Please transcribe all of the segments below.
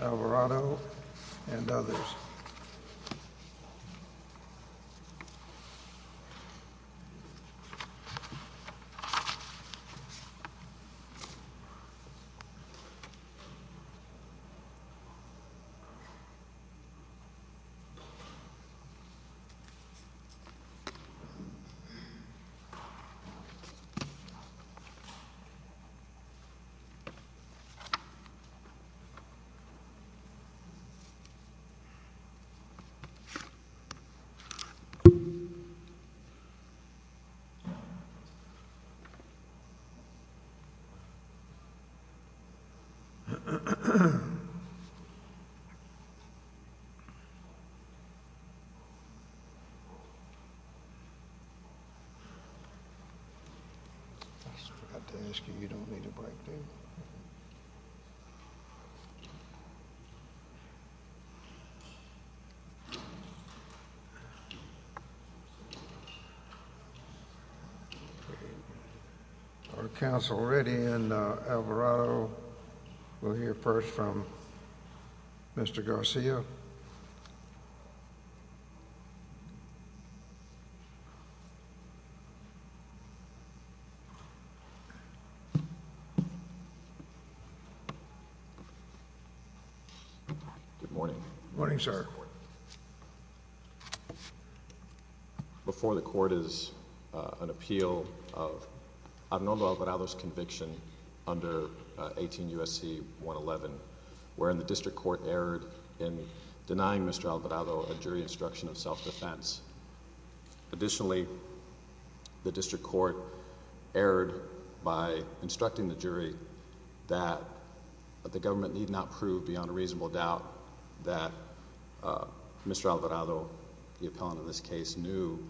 Alvarado and others I just forgot to ask you, you don't need a break, do you? Our counsel Reddy and Alvarado, we'll hear first from Mr. Garcia. Good morning, sir. Before the court is an appeal of Abnero Alvarado's conviction under 18 U.S.C. 111, wherein the defendant was found guilty of self-defense, Mr. Alvarado was found guilty of self-defense under Section 18, denying Mr. Alvarado a jury instruction of self-defense. Additionally, the district court erred by instructing the jury that the government need not prove beyond a reasonable doubt that Mr. Alvarado, the appellant of this case, knew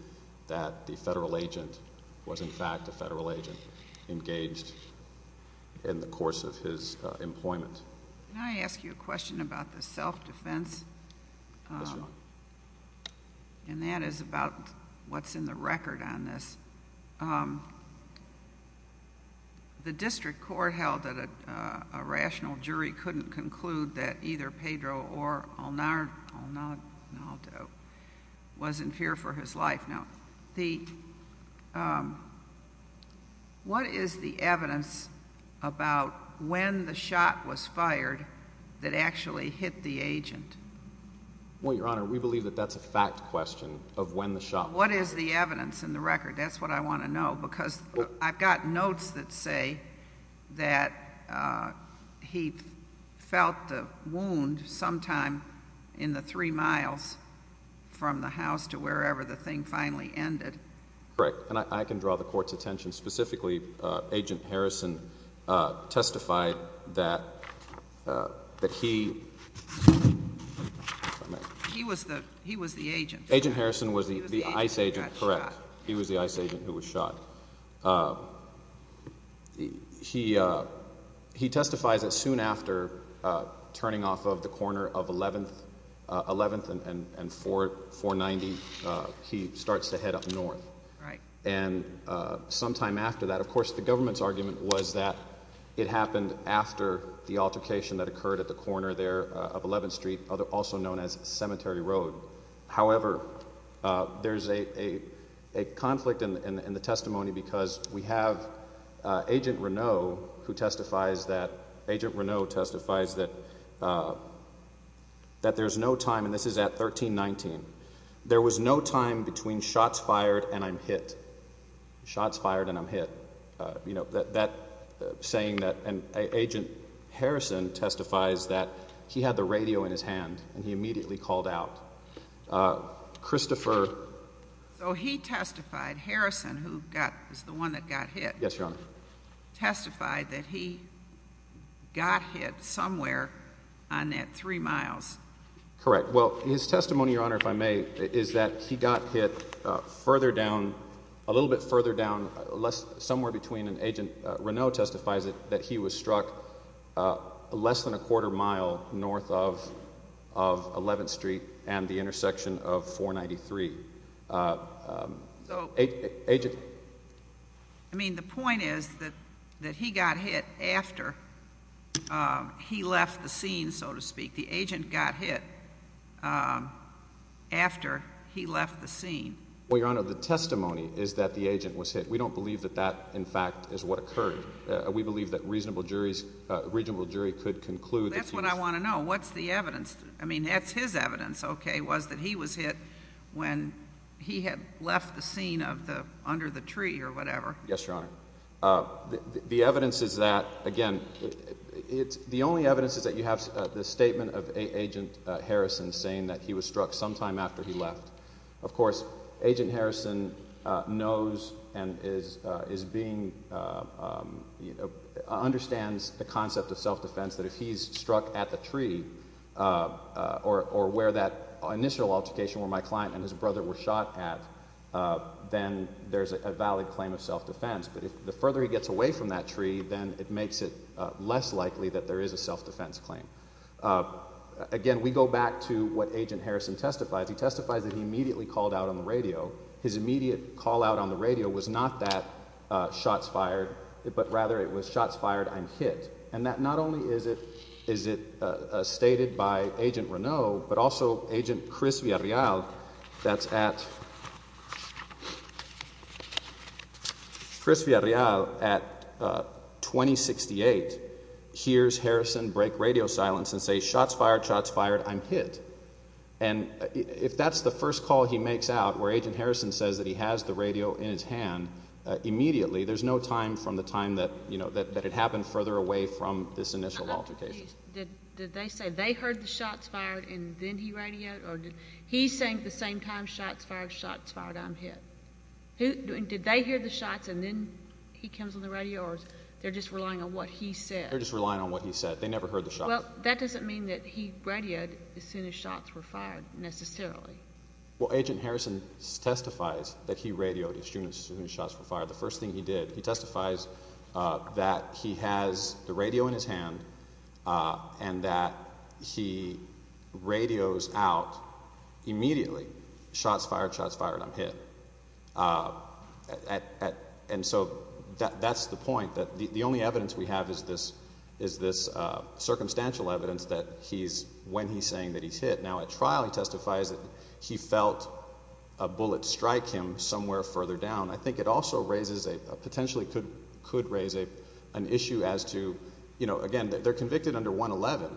that the federal agent was, in fact, a federal agent engaged in the course of his employment. Can I ask you a question about the self-defense? Yes, ma'am. And that is about what's in the record on this. The district court held that a rational jury couldn't conclude that either Pedro or Alnardo was in fear for his life. Now, what is the evidence about when the shot was fired that actually hit the agent? Well, Your Honor, we believe that that's a fact question of when the shot was fired. What is the evidence in the record? That's what I want to know because I've got notes that say that he felt the wound sometime in the three miles from the house to wherever the thing finally ended. Correct. And I can draw the court's attention specifically, Agent Harrison testified that he... He was the agent. Agent Harrison was the ICE agent, correct. He was the ICE agent who was shot. He testified that soon after turning off of the corner of 11th and 490, he starts to head up north. Right. And sometime after that, of course, the government's argument was that it happened after the altercation that occurred at the corner there of 11th Street, also known as Cemetery Road. However, there's a conflict in the testimony because we have Agent Reneau who testifies that... Agent Reneau testifies that there's no time, and this is at 1319, there was no time between shots fired and I'm hit. Shots fired and I'm hit, you know, that saying that... And Agent Harrison testifies that he had the radio in his hand and he immediately called out. Christopher... So he testified, Harrison, who was the one that got hit... Yes, Your Honor.... testified that he got hit somewhere on that three miles. Correct. Well, his testimony, Your Honor, if I may, is that he got hit further down, a little bit further down, somewhere between... And Agent Reneau testifies that he was struck less than a quarter mile north of 11th Street and the intersection of 493. So... Agent... I mean, the point is that he got hit after he left the scene, so to speak. The agent got hit after he left the scene. Well, Your Honor, the testimony is that the agent was hit. We don't believe that that, in fact, is what occurred. We believe that a reasonable jury could conclude that he was... That's what I want to know. What's the evidence? I mean, that's his evidence, okay, was that he was hit when he had left the scene of the... under the tree or whatever. Yes, Your Honor. The evidence is that, again, it's... The only evidence is that you have the statement of Agent Harrison saying that he was struck sometime after he left. Of course, Agent Harrison knows and is being... understands the concept of self-defense that if he's struck at the tree, or where that initial altercation where my client and his brother were shot at, then there's a valid claim of self-defense, but the further he gets away from that tree, then it makes it less likely that there is a self-defense claim. Again, we go back to what Agent Harrison testifies. He testifies that he immediately called out on the radio. His immediate call out on the radio was not that shots fired, but rather it was shots fired, I'm hit. And that not only is it... is it stated by Agent Reneau, but also Agent Chris Villarreal that's at... Chris Villarreal at 2068 hears Harrison break radio silence and say, shots fired, shots fired, I'm hit. And if that's the first call he makes out where Agent Harrison says that he has the radio in his hand, immediately, there's no time from the time that, you know, that it happened further away from this initial altercation. Did they say they heard the shots fired and then he radioed, or did... he's saying at the same time shots fired, shots fired, I'm hit. Did they hear the shots and then he comes on the radio, or they're just relying on what he said? They're just relying on what he said. They never heard the shot. Well, that doesn't mean that he radioed as soon as shots were fired, necessarily. Well, Agent Harrison testifies that he radioed as soon as shots were fired. The first thing he did, he testifies that he has the radio in his hand and that he radios out immediately, shots fired, shots fired, I'm hit. And so that's the point, that the only evidence we have is this, is this circumstantial evidence that he's, when he's saying that he's hit. Now at trial he testifies that he felt a bullet strike him somewhere further down. I think it also raises a, potentially could raise an issue as to, you know, again, they're convicted under 111,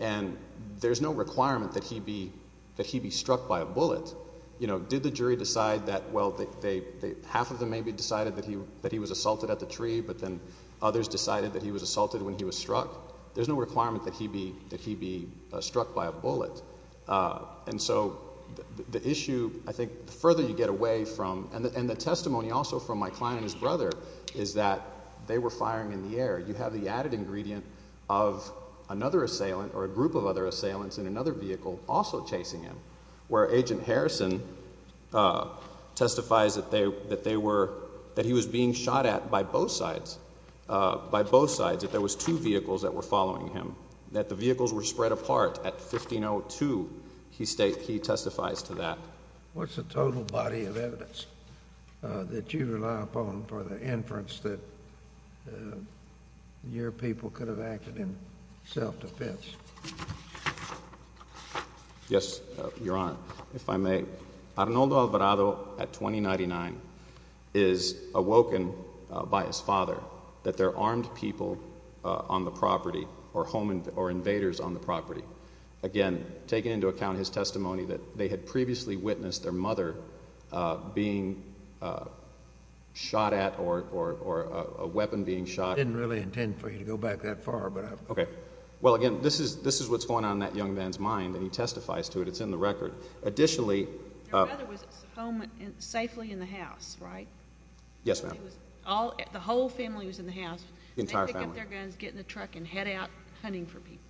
and there's no requirement that he be, that he be struck by a bullet. You know, did the jury decide that, well, they, half of them maybe decided that he was assaulted at the tree, but then others decided that he was assaulted when he was struck? There's no requirement that he be, that he be struck by a bullet. And so the issue, I think, the further you get away from, and the testimony also from my client and his brother is that they were firing in the air. You have the added ingredient of another assailant or a group of other assailants in another vehicle also chasing him, where Agent Harrison testifies that they, that they were, that he was being shot at by both sides, by both sides, that there was two vehicles that were following him, that the vehicles were spread apart at 1502. He state, he testifies to that. What's the total body of evidence that you rely upon for the inference that your people could have acted in self-defense? Yes, Your Honor. If I may, Arnoldo Alvarado at 2099 is awoken by his father that there are armed people on the property or home, or invaders on the property, again, taking into account his testimony that they had previously witnessed their mother being shot at or, or, or a weapon being shot. I didn't really intend for you to go back that far, but I've got it. Okay. Well, again, this is, this is what's going on in that young man's mind, and he testifies to it. It's in the record. Additionally, uh. Your mother was home, safely in the house, right? Yes, ma'am. He was all, the whole family was in the house. The entire family. They pick up their guns, get in the truck, and head out hunting for people.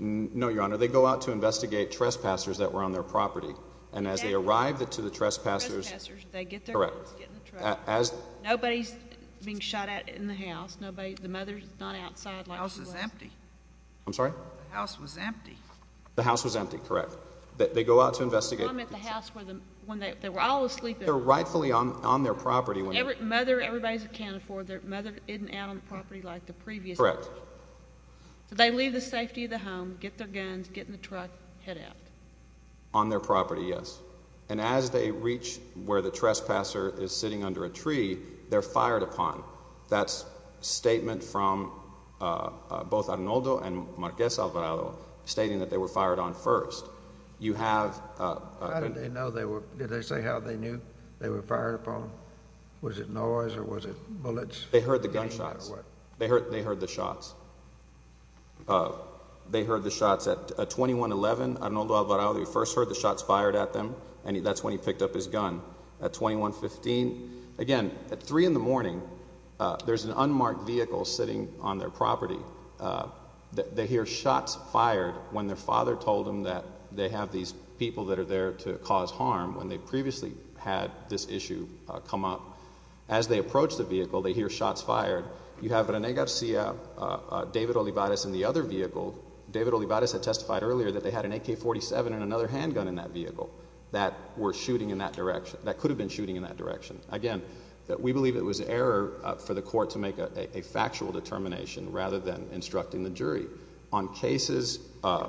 No, Your Honor. They go out to investigate trespassers that were on their property, and as they arrived at, to the trespassers. The trespassers, they get their guns, get in the truck. As. Nobody's being shot at in the house. Nobody, the mother's not outside like she was. The house was empty. I'm sorry? The house was empty. The house was empty, correct. They go out to investigate. They come at the house where the, when they, they were all asleep. They're rightfully on, on their property when. Every, mother, everybody's accounted for, their mother isn't out on the property like the previous. Correct. So they leave the safety of the home, get their guns, get in the truck, head out. On their property, yes. And as they reach where the trespasser is sitting under a tree, they're fired upon. That's statement from both Arnoldo and Marquez Alvarado, stating that they were fired on first. You have. How did they know they were, did they say how they knew they were fired upon? Was it noise, or was it bullets? They heard the gunshots. They heard, they heard the shots. They heard the shots at 2111, Arnoldo Alvarado, you first heard the shots fired at them. And that's when he picked up his gun. At 2115, again, at three in the morning, there's an unmarked vehicle sitting on their property. They hear shots fired when their father told them that they have these people that are there to cause harm when they previously had this issue come up. As they approach the vehicle, they hear shots fired. You have Rene Garcia, David Olivares in the other vehicle. David Olivares had testified earlier that they had an AK-47 and another handgun in that were shooting in that direction, that could have been shooting in that direction. Again, we believe it was error for the court to make a factual determination rather than instructing the jury. On cases, on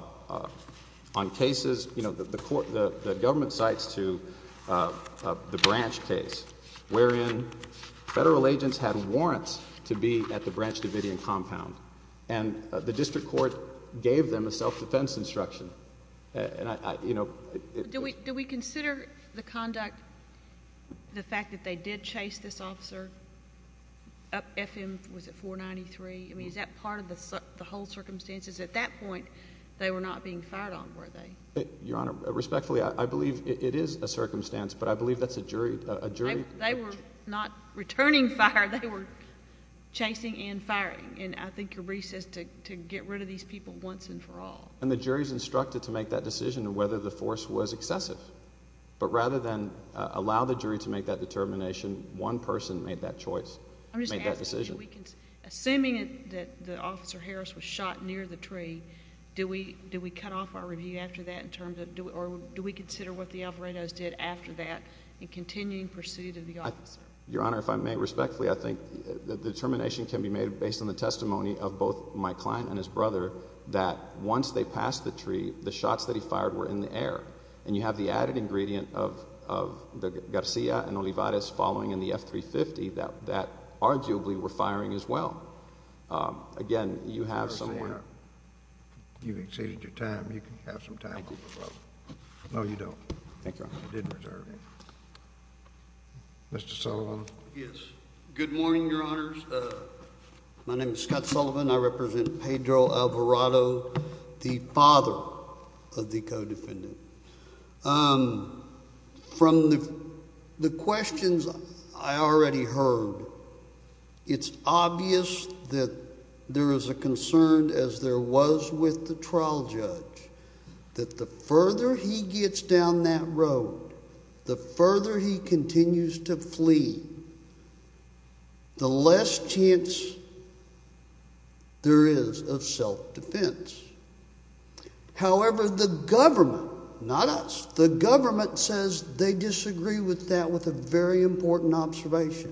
cases, you know, the government cites to the Branch case, wherein federal agents had warrants to be at the Branch Davidian compound, and the district court gave them a self-defense instruction, and I, you know... But do we consider the conduct, the fact that they did chase this officer up FM, was it 493? I mean, is that part of the whole circumstances? At that point, they were not being fired on, were they? Your Honor, respectfully, I believe it is a circumstance, but I believe that's a jury... They were not returning fire. They were chasing and firing, and I think your brief says to get rid of these people once and for all. And the jury is instructed to make that decision of whether the force was excessive, but rather than allow the jury to make that determination, one person made that choice, made that decision. I'm just asking, assuming that Officer Harris was shot near the tree, do we cut off our review after that in terms of... or do we consider what the Alvarado's did after that in continuing pursuit of the officer? Your Honor, if I may, respectfully, I think the determination can be made based on the the shots that he fired were in the air, and you have the added ingredient of Garcia and Olivares following in the F-350 that arguably were firing as well. Again, you have somewhere... Mr. Garcia, you've exceeded your time. You can have some time. Thank you, Your Honor. No, you don't. Thank you, Your Honor. I didn't reserve you. Mr. Sullivan? Yes. Good morning, Your Honors. My name is Scott Sullivan. I represent Pedro Alvarado. I'm the father of the co-defendant. From the questions I already heard, it's obvious that there is a concern as there was with the trial judge that the further he gets down that road, the further he continues to However, the government... not us... the government says they disagree with that with a very important observation,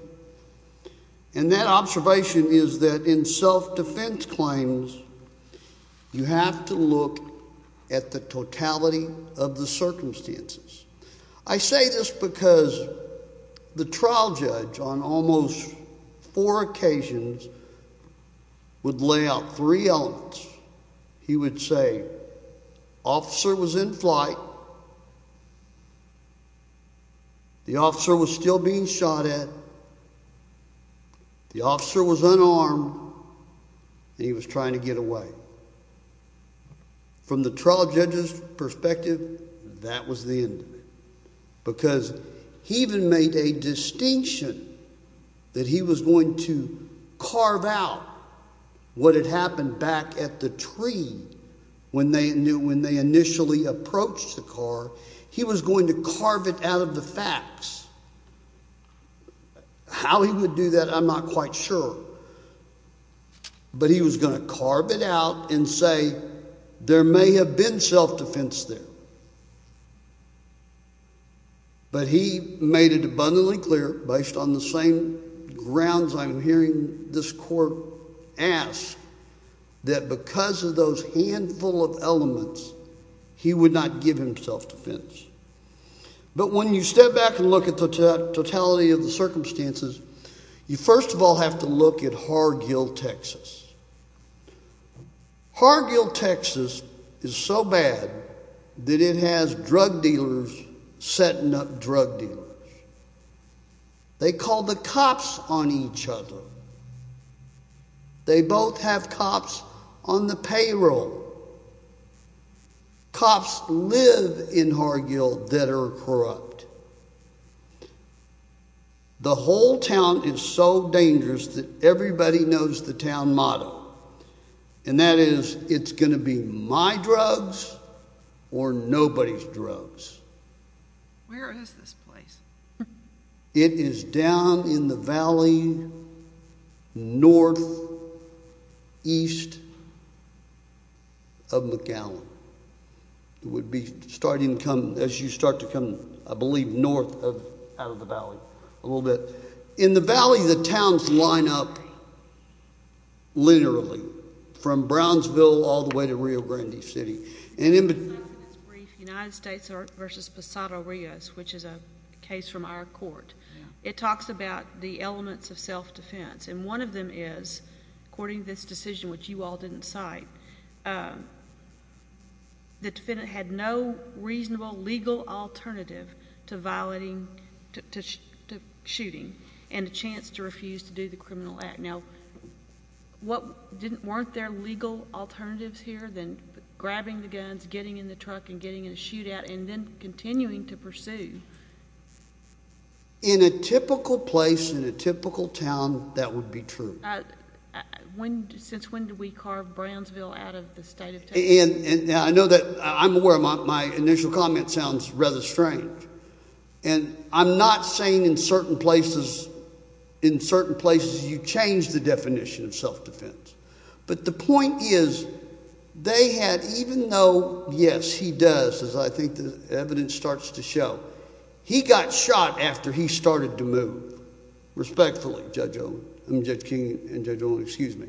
and that observation is that in self-defense claims, you have to look at the totality of the circumstances. I say this because the trial judge on almost four occasions would lay out three elements. He would say, Officer was in flight. The officer was still being shot at. The officer was unarmed, and he was trying to get away. From the trial judge's perspective, that was the end of it because he even made a distinction that he was going to carve out what had happened back at the tree when they initially approached the car. He was going to carve it out of the facts. How he would do that, I'm not quite sure, but he was going to carve it out and say there may have been self-defense there, but he made it abundantly clear, based on the same grounds I'm hearing this court ask, that because of those handful of elements, he would not give him self-defense. But when you step back and look at the totality of the circumstances, you first of all have to look at Hargill, Texas. Hargill, Texas is so bad that it has drug dealers setting up drug dealers. They call the cops on each other. They both have cops on the payroll. Cops live in Hargill that are corrupt. The whole town is so dangerous that everybody knows the town motto, and that is, it's going to be my drugs or nobody's drugs. Where is this place? It is down in the valley northeast of McAllen. It would be starting to come, as you start to come, I believe, north of, out of the valley a little bit. In the valley, the towns line up linearly, from Brownsville all the way to Rio Grande City. In this brief, United States v. Posada Rios, which is a case from our court, it talks about the elements of self-defense, and one of them is, according to this decision, which you all didn't cite, the defendant had no reasonable legal alternative to violating, to shooting, and a chance to refuse to do the criminal act. Now, weren't there legal alternatives here than grabbing the guns, getting in the truck, and getting in a shootout, and then continuing to pursue? In a typical place, in a typical town, that would be true. Since when did we carve Brownsville out of the state of Texas? I know that, I'm aware my initial comment sounds rather strange, and I'm not saying in certain places, in certain places, you change the definition of self-defense. But the point is, they had, even though, yes, he does, as I think the evidence starts to show, he got shot after he started to move, respectfully, Judge Olin, I mean Judge King and Judge Olin, excuse me.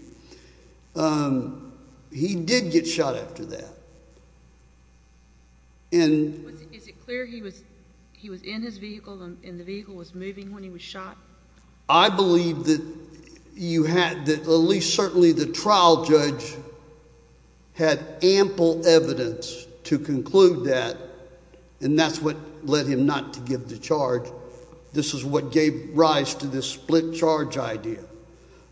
He did get shot after that. Is it clear he was in his vehicle, and the vehicle was moving when he was shot? I believe that you had, at least certainly the trial judge, had ample evidence to conclude that, and that's what led him not to give the charge. This is what gave rise to this split charge idea,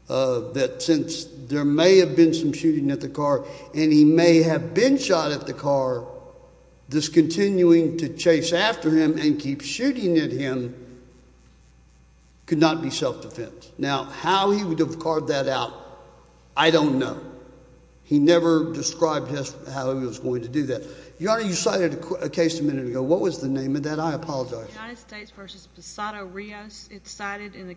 that since there may have been some gunshot at the car, this continuing to chase after him and keep shooting at him could not be self-defense. Now, how he would have carved that out, I don't know. He never described how he was going to do that. Your Honor, you cited a case a minute ago. What was the name of that? I apologize. The United States v. Posado Rios. It's cited in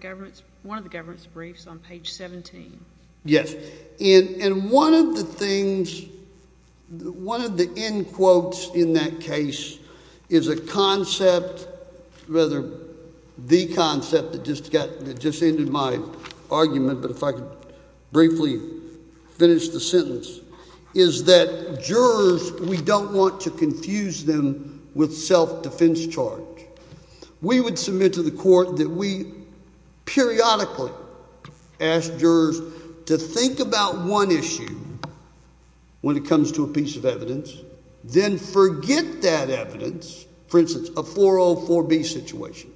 one of the government's briefs on page 17. Yes. Okay. And one of the things, one of the end quotes in that case is a concept, rather the concept that just ended my argument, but if I could briefly finish the sentence, is that jurors, we don't want to confuse them with self-defense charge. We would submit to the court that we periodically ask jurors to think about one issue when it comes to a piece of evidence, then forget that evidence, for instance, a 404B situation.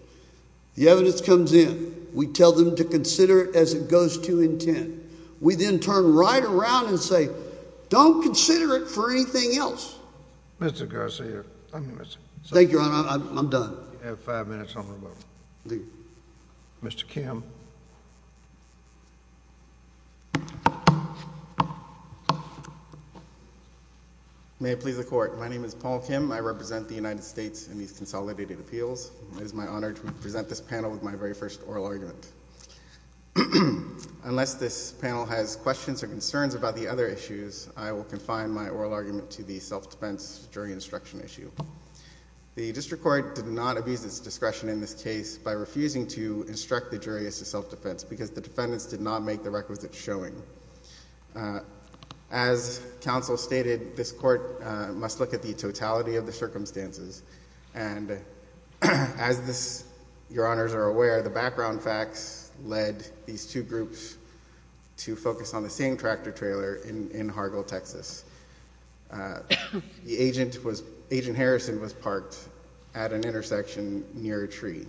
The evidence comes in. We tell them to consider it as it goes to intent. We then turn right around and say, don't consider it for anything else. Mr. Garcia. Thank you, Your Honor. I'm done. You have five minutes on the rebuttal. Mr. Kim. May it please the Court. My name is Paul Kim. I represent the United States in these consolidated appeals. It is my honor to present this panel with my very first oral argument. Unless this panel has questions or concerns about the other issues, I will confine my presentation to the panel. The first issue is the self-defense jury instruction issue. The district court did not abuse its discretion in this case by refusing to instruct the jury as to self-defense because the defendants did not make the requisite showing. As counsel stated, this court must look at the totality of the circumstances and as Your Honors are aware, the background facts led these two groups to focus on the same tractor trailer in Hargle, Texas. The agent, Agent Harrison, was parked at an intersection near a tree.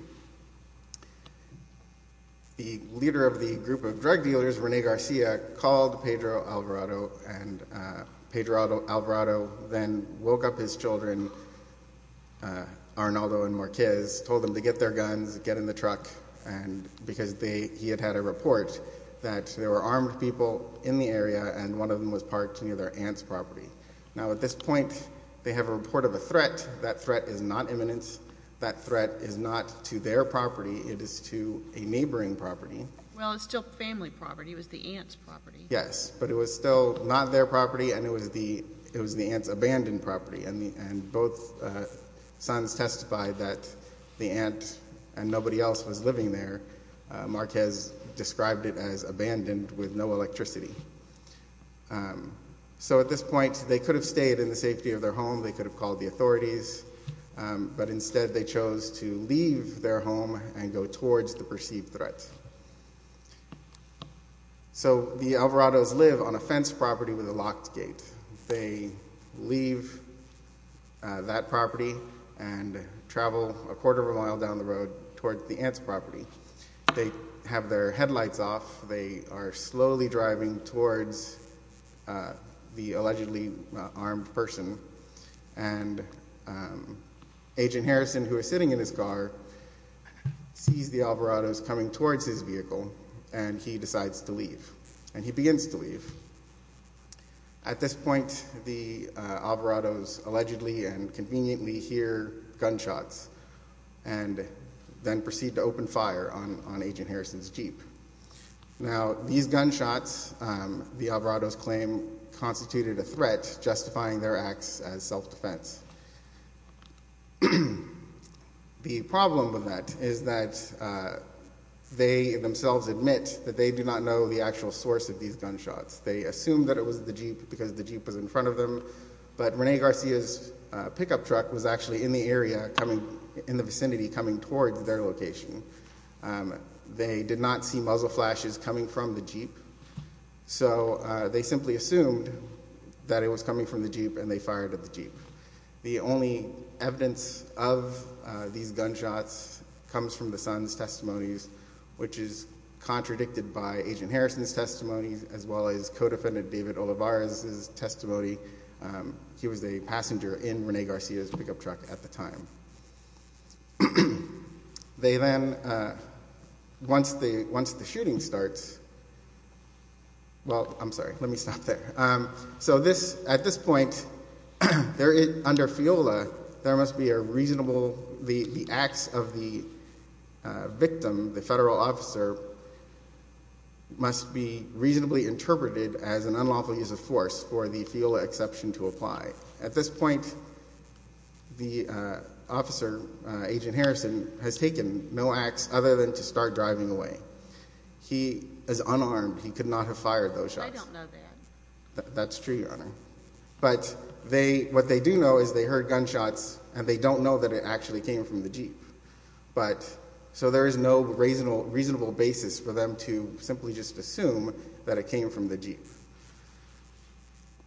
The leader of the group of drug dealers, Rene Garcia, called Pedro Alvarado and Pedro Alvarado then woke up his children, Arnaldo and Marquez, told them to get their guns, get in the truck and because he had had a report that there were armed people in the area and one of them was parked near their aunt's property. Now at this point, they have a report of a threat. That threat is not imminence, that threat is not to their property, it is to a neighboring property. Well, it's still family property. It was the aunt's property. Yes, but it was still not their property and it was the aunt's abandoned property and both sons testified that the aunt and nobody else was living there. Marquez described it as abandoned with no electricity. So at this point, they could have stayed in the safety of their home, they could have called the authorities, but instead they chose to leave their home and go towards the perceived threat. So the Alvarados live on a fenced property with a locked gate. They leave that property and travel a quarter of a mile down the road towards the aunt's property. They have their headlights off. They are slowly driving towards the allegedly armed person and Agent Harrison, who is sitting in his car, sees the Alvarados coming towards his vehicle and he decides to leave and he begins to leave. At this point, the Alvarados allegedly and conveniently hear gunshots and then proceed to open fire on Agent Harrison's Jeep. Now these gunshots, the Alvarados claim, constituted a threat justifying their acts as self-defense. The problem with that is that they themselves admit that they do not know the actual source of these gunshots. They assume that it was the Jeep because the Jeep was in front of them, but Rene Garcia's pickup truck was actually in the area, in the vicinity, coming towards their location. They did not see muzzle flashes coming from the Jeep. So they simply assumed that it was coming from the Jeep and they fired at the Jeep. The only evidence of these gunshots comes from the son's testimonies, which is contradicted by Agent Harrison's testimony, as well as co-defendant David Olivares' testimony. He was a passenger in Rene Garcia's pickup truck at the time. They then, once the shooting starts, well, I'm sorry, let me stop there. So at this point, under FIOLA, there must be a reasonable, the acts of the victim, the must be reasonably interpreted as an unlawful use of force for the FIOLA exception to apply. At this point, the officer, Agent Harrison, has taken no acts other than to start driving away. He is unarmed. He could not have fired those shots. I don't know that. That's true, Your Honor. But what they do know is they heard gunshots and they don't know that it actually came from the Jeep. But, so there is no reasonable basis for them to simply just assume that it came from the Jeep.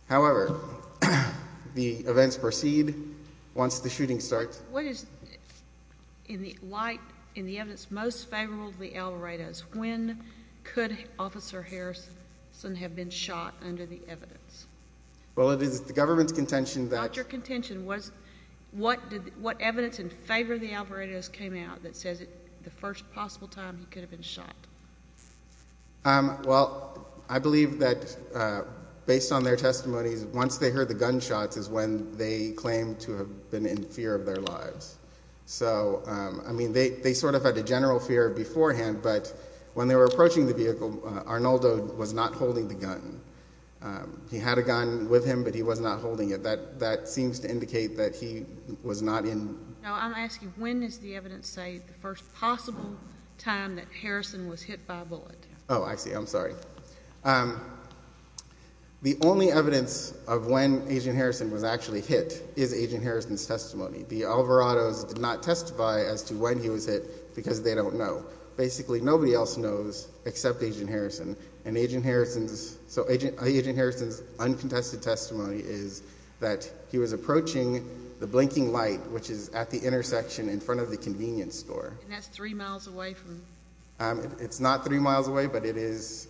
However, the events proceed once the shooting starts. What is, in the light, in the evidence most favorable to the Alvaredo's, when could Officer Harrison have been shot under the evidence? Well, it is the government's contention that... Well, I believe that, based on their testimonies, once they heard the gunshots is when they claimed to have been in fear of their lives. So, I mean, they sort of had a general fear beforehand, but when they were approaching the vehicle, Arnoldo was not holding the gun. He had a gun with him, but he was not holding it. That seems to indicate that he was not in... No, I'm asking when is the evidence say the first possible time that Harrison was hit by a bullet? Oh, I see. I'm sorry. The only evidence of when Agent Harrison was actually hit is Agent Harrison's testimony. The Alvaredo's did not testify as to when he was hit because they don't know. Basically, nobody else knows except Agent Harrison. And Agent Harrison's, so Agent Harrison's uncontested testimony is that he was approaching the blinking light, which is at the intersection in front of the convenience store. And that's three miles away from... It's not three miles away, but it is...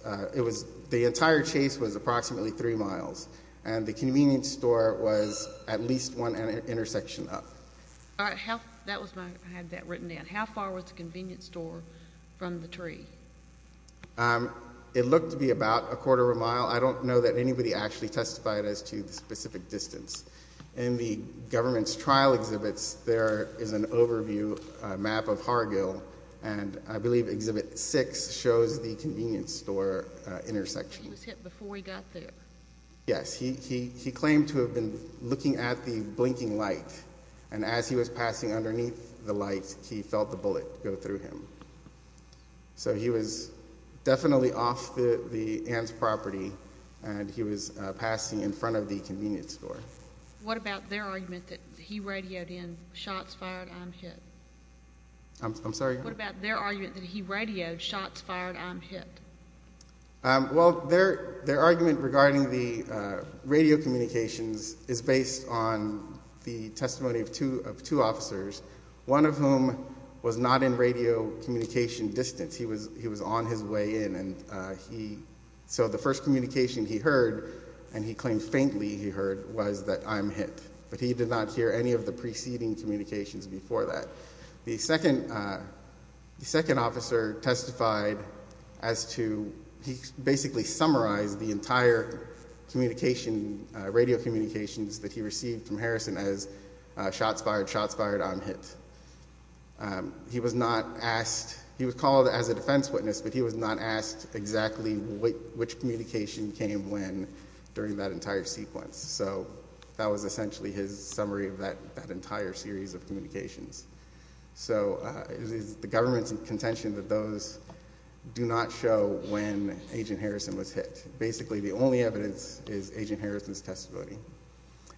The entire chase was approximately three miles, and the convenience store was at least one intersection up. All right. That was my... I had that written down. How far was the convenience store from the tree? It looked to be about a quarter of a mile. I don't know that anybody actually testified as to the specific distance. In the government's trial exhibits, there is an overview map of Hargill, and I believe Exhibit 6 shows the convenience store intersection. He was hit before he got there? Yes. He claimed to have been looking at the blinking light, and as he was passing underneath the light, he felt the bullet go through him. So he was definitely off the Ann's property, and he was passing in front of the convenience store. What about their argument that he radioed in, shots fired, I'm hit? I'm sorry? What about their argument that he radioed, shots fired, I'm hit? Well, their argument regarding the radio communications is based on the testimony of two officers, one of whom was not in radio communication distance. He was on his way in, and he... was that I'm hit, but he did not hear any of the preceding communications before that. The second officer testified as to, he basically summarized the entire communication, radio communications that he received from Harrison as shots fired, shots fired, I'm hit. He was not asked, he was called as a defense witness, but he was not asked exactly which communication came when during that entire sequence. So that was essentially his summary of that entire series of communications. So it is the government's contention that those do not show when Agent Harrison was hit. Basically, the only evidence is Agent Harrison's testimony.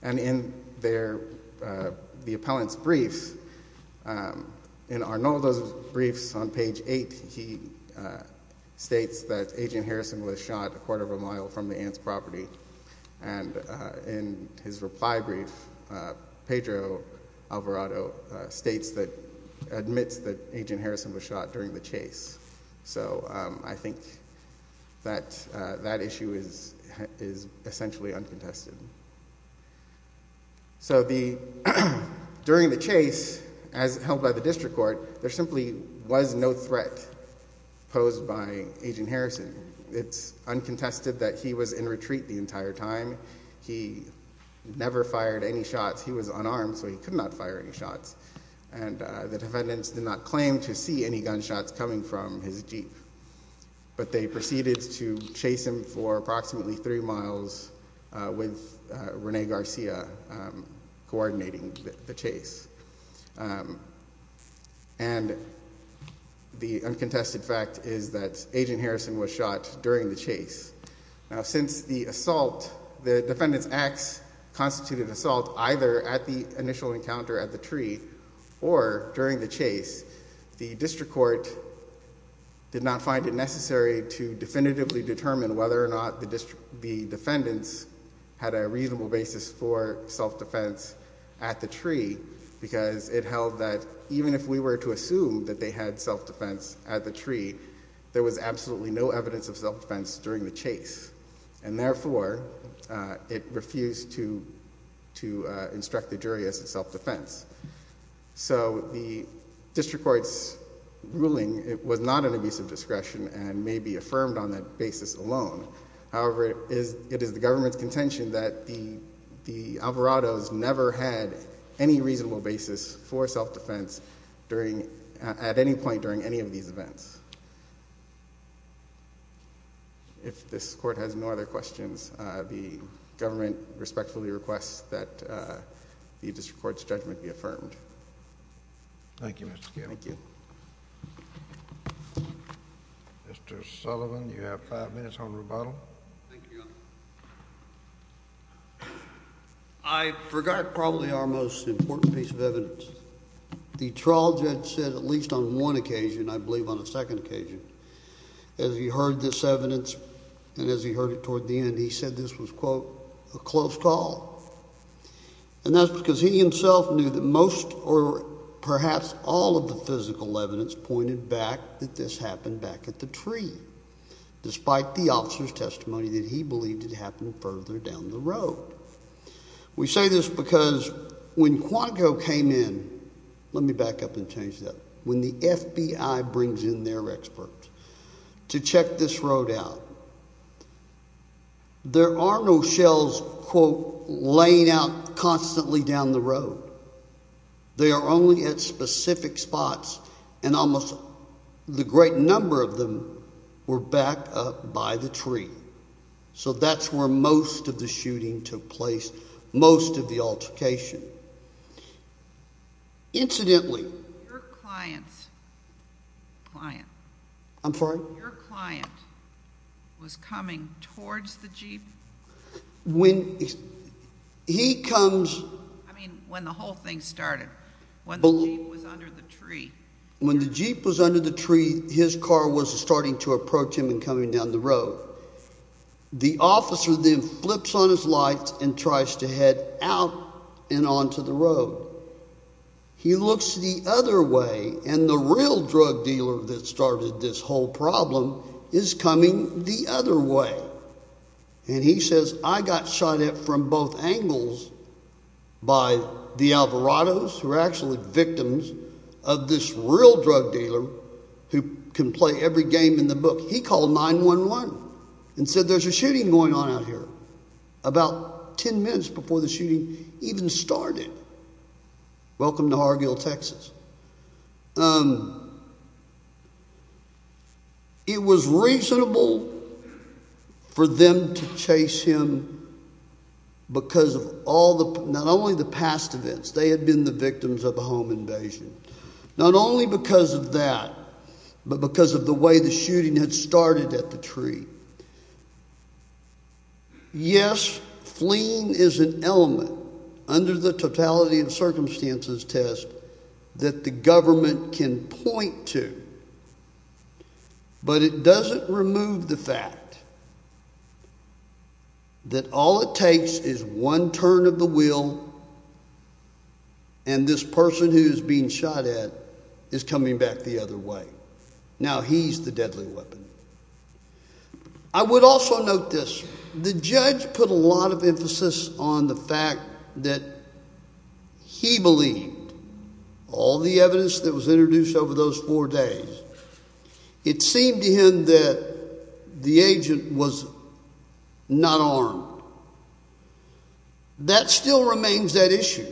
And in the appellant's brief, in Arnoldo's briefs on page eight, he states that Agent In his reply brief, Pedro Alvarado states that, admits that Agent Harrison was shot during the chase. So I think that that issue is essentially uncontested. So during the chase, as held by the district court, there simply was no threat posed by Agent Harrison. It's uncontested that he was in retreat the entire time. He never fired any shots. He was unarmed, so he could not fire any shots. And the defendants did not claim to see any gunshots coming from his Jeep. But they proceeded to chase him for approximately three miles with Rene Garcia coordinating the chase. And the uncontested fact is that Agent Harrison was shot during the chase. Now, since the assault, the defendant's acts constituted assault either at the initial encounter at the tree or during the chase, the district court did not find it necessary to definitively determine whether or not the defendants had a reasonable basis for self-defense at the tree, because it held that even if we were to assume that they had self-defense at the tree, there was absolutely no evidence of self-defense during the chase. And therefore, it refused to instruct the jury as to self-defense. So the district court's ruling was not an abuse of discretion and may be affirmed on that basis alone. However, it is the government's contention that the Alvarado's never had any reasonable basis for self-defense at any point during any of these events. If this court has no other questions, the government respectfully requests that the district court's judgment be affirmed. Thank you, Mr. Kennedy. Thank you. Mr. Sullivan, you have five minutes on rebuttal. Thank you. I forgot probably our most important piece of evidence. The trial judge said at least on one occasion, I believe on a second occasion, as he heard this evidence and as he heard it toward the end, he said this was, quote, a close call. And that's because he himself knew that most or perhaps all of the physical evidence pointed back that this happened back at the tree, despite the officer's testimony that he believed it happened further down the road. We say this because when Quantico came in, let me back up and change that, when the FBI brings in their experts to check this road out, there are no shells, quote, laying out constantly down the road. They are only at specific spots, and almost the great number of them were backed up by the tree. So that's where most of the shooting took place, most of the altercation. Incidentally— Your client's client— I'm sorry? Your client was coming towards the jeep? When he comes— I mean, when the whole thing started, when the jeep was under the tree. When the jeep was under the tree, his car was starting to approach him and coming down the road. The officer then flips on his lights and tries to head out and onto the road. He looks the other way, and the real drug dealer that started this whole problem is coming the other way. And he says, I got shot at from both angles by the Alvarados, who are actually victims of this real drug dealer who can play every game in the book. He called 911 and said, there's a shooting going on out here, about 10 minutes before the shooting even started. Welcome to Hargill, Texas. It was reasonable for them to chase him because of all the—not only the past events, they had been the victims of a home invasion. Not only because of that, but because of the way the shooting had started at the tree. Yes, fleeing is an element, under the totality and circumstances test, that the government can point to. But it doesn't remove the fact that all it takes is one turn of the wheel, and this person who is being shot at is coming back the other way. Now he's the deadly weapon. I would also note this. The judge put a lot of emphasis on the fact that he believed all the evidence that was introduced over those four days. It seemed to him that the agent was not armed. That still remains that issue.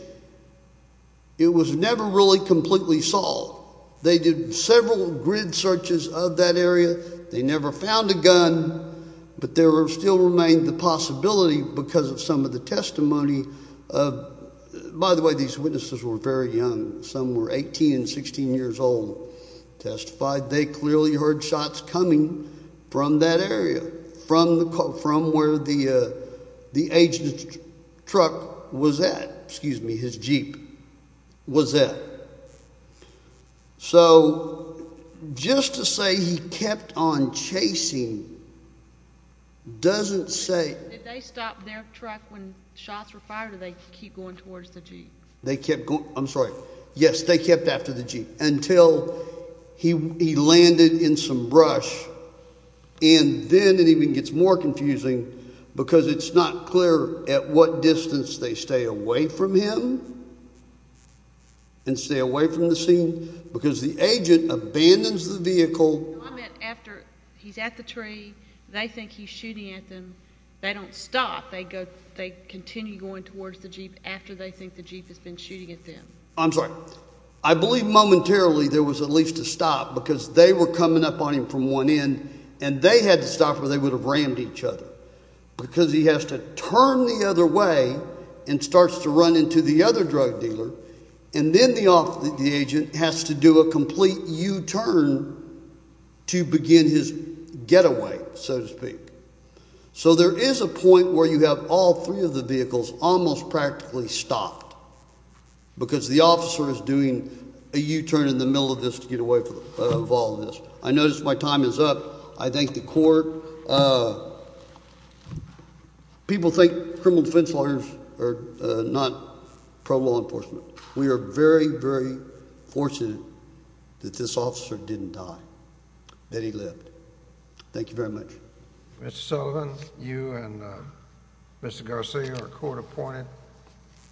It was never really completely solved. They did several grid searches of that area. They never found a gun, but there still remained the possibility because of some of the testimony. By the way, these witnesses were very young. Some were 18 and 16 years old, testified. They clearly heard shots coming from that area, from where the agent's truck was at—excuse me—so just to say he kept on chasing doesn't say— Did they stop their truck when shots were fired or did they keep going towards the jeep? They kept going—I'm sorry, yes, they kept after the jeep until he landed in some brush, and then it even gets more confusing because it's not clear at what distance they stay away from him and stay away from the scene because the agent abandons the vehicle— No, I meant after he's at the tree, they think he's shooting at them, they don't stop. They continue going towards the jeep after they think the jeep has been shooting at them. I'm sorry. I believe momentarily there was at least a stop because they were coming up on him from one end, and they had to stop or they would have rammed each other because he has to turn the other way and starts to run into the other drug dealer, and then the agent has to do a complete U-turn to begin his getaway, so to speak. So there is a point where you have all three of the vehicles almost practically stopped because the officer is doing a U-turn in the middle of this to get away from all of this. I notice my time is up. I thank the court. People think criminal defense lawyers are not pro-law enforcement. We are very, very fortunate that this officer didn't die, that he lived. Thank you very much. Mr. Sullivan, you and Mr. Garcia are court-appointed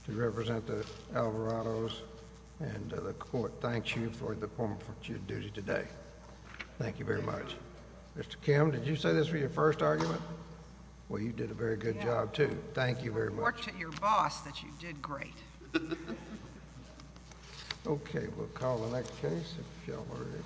to represent the Alvarados, and the court thanks you for the opportunity today. Thank you very much. Mr. Kim, did you say this was your first argument? Well, you did a very good job, too. Thank you very much. Report to your boss that you did great. Okay. We'll call the next case, if y'all are ready.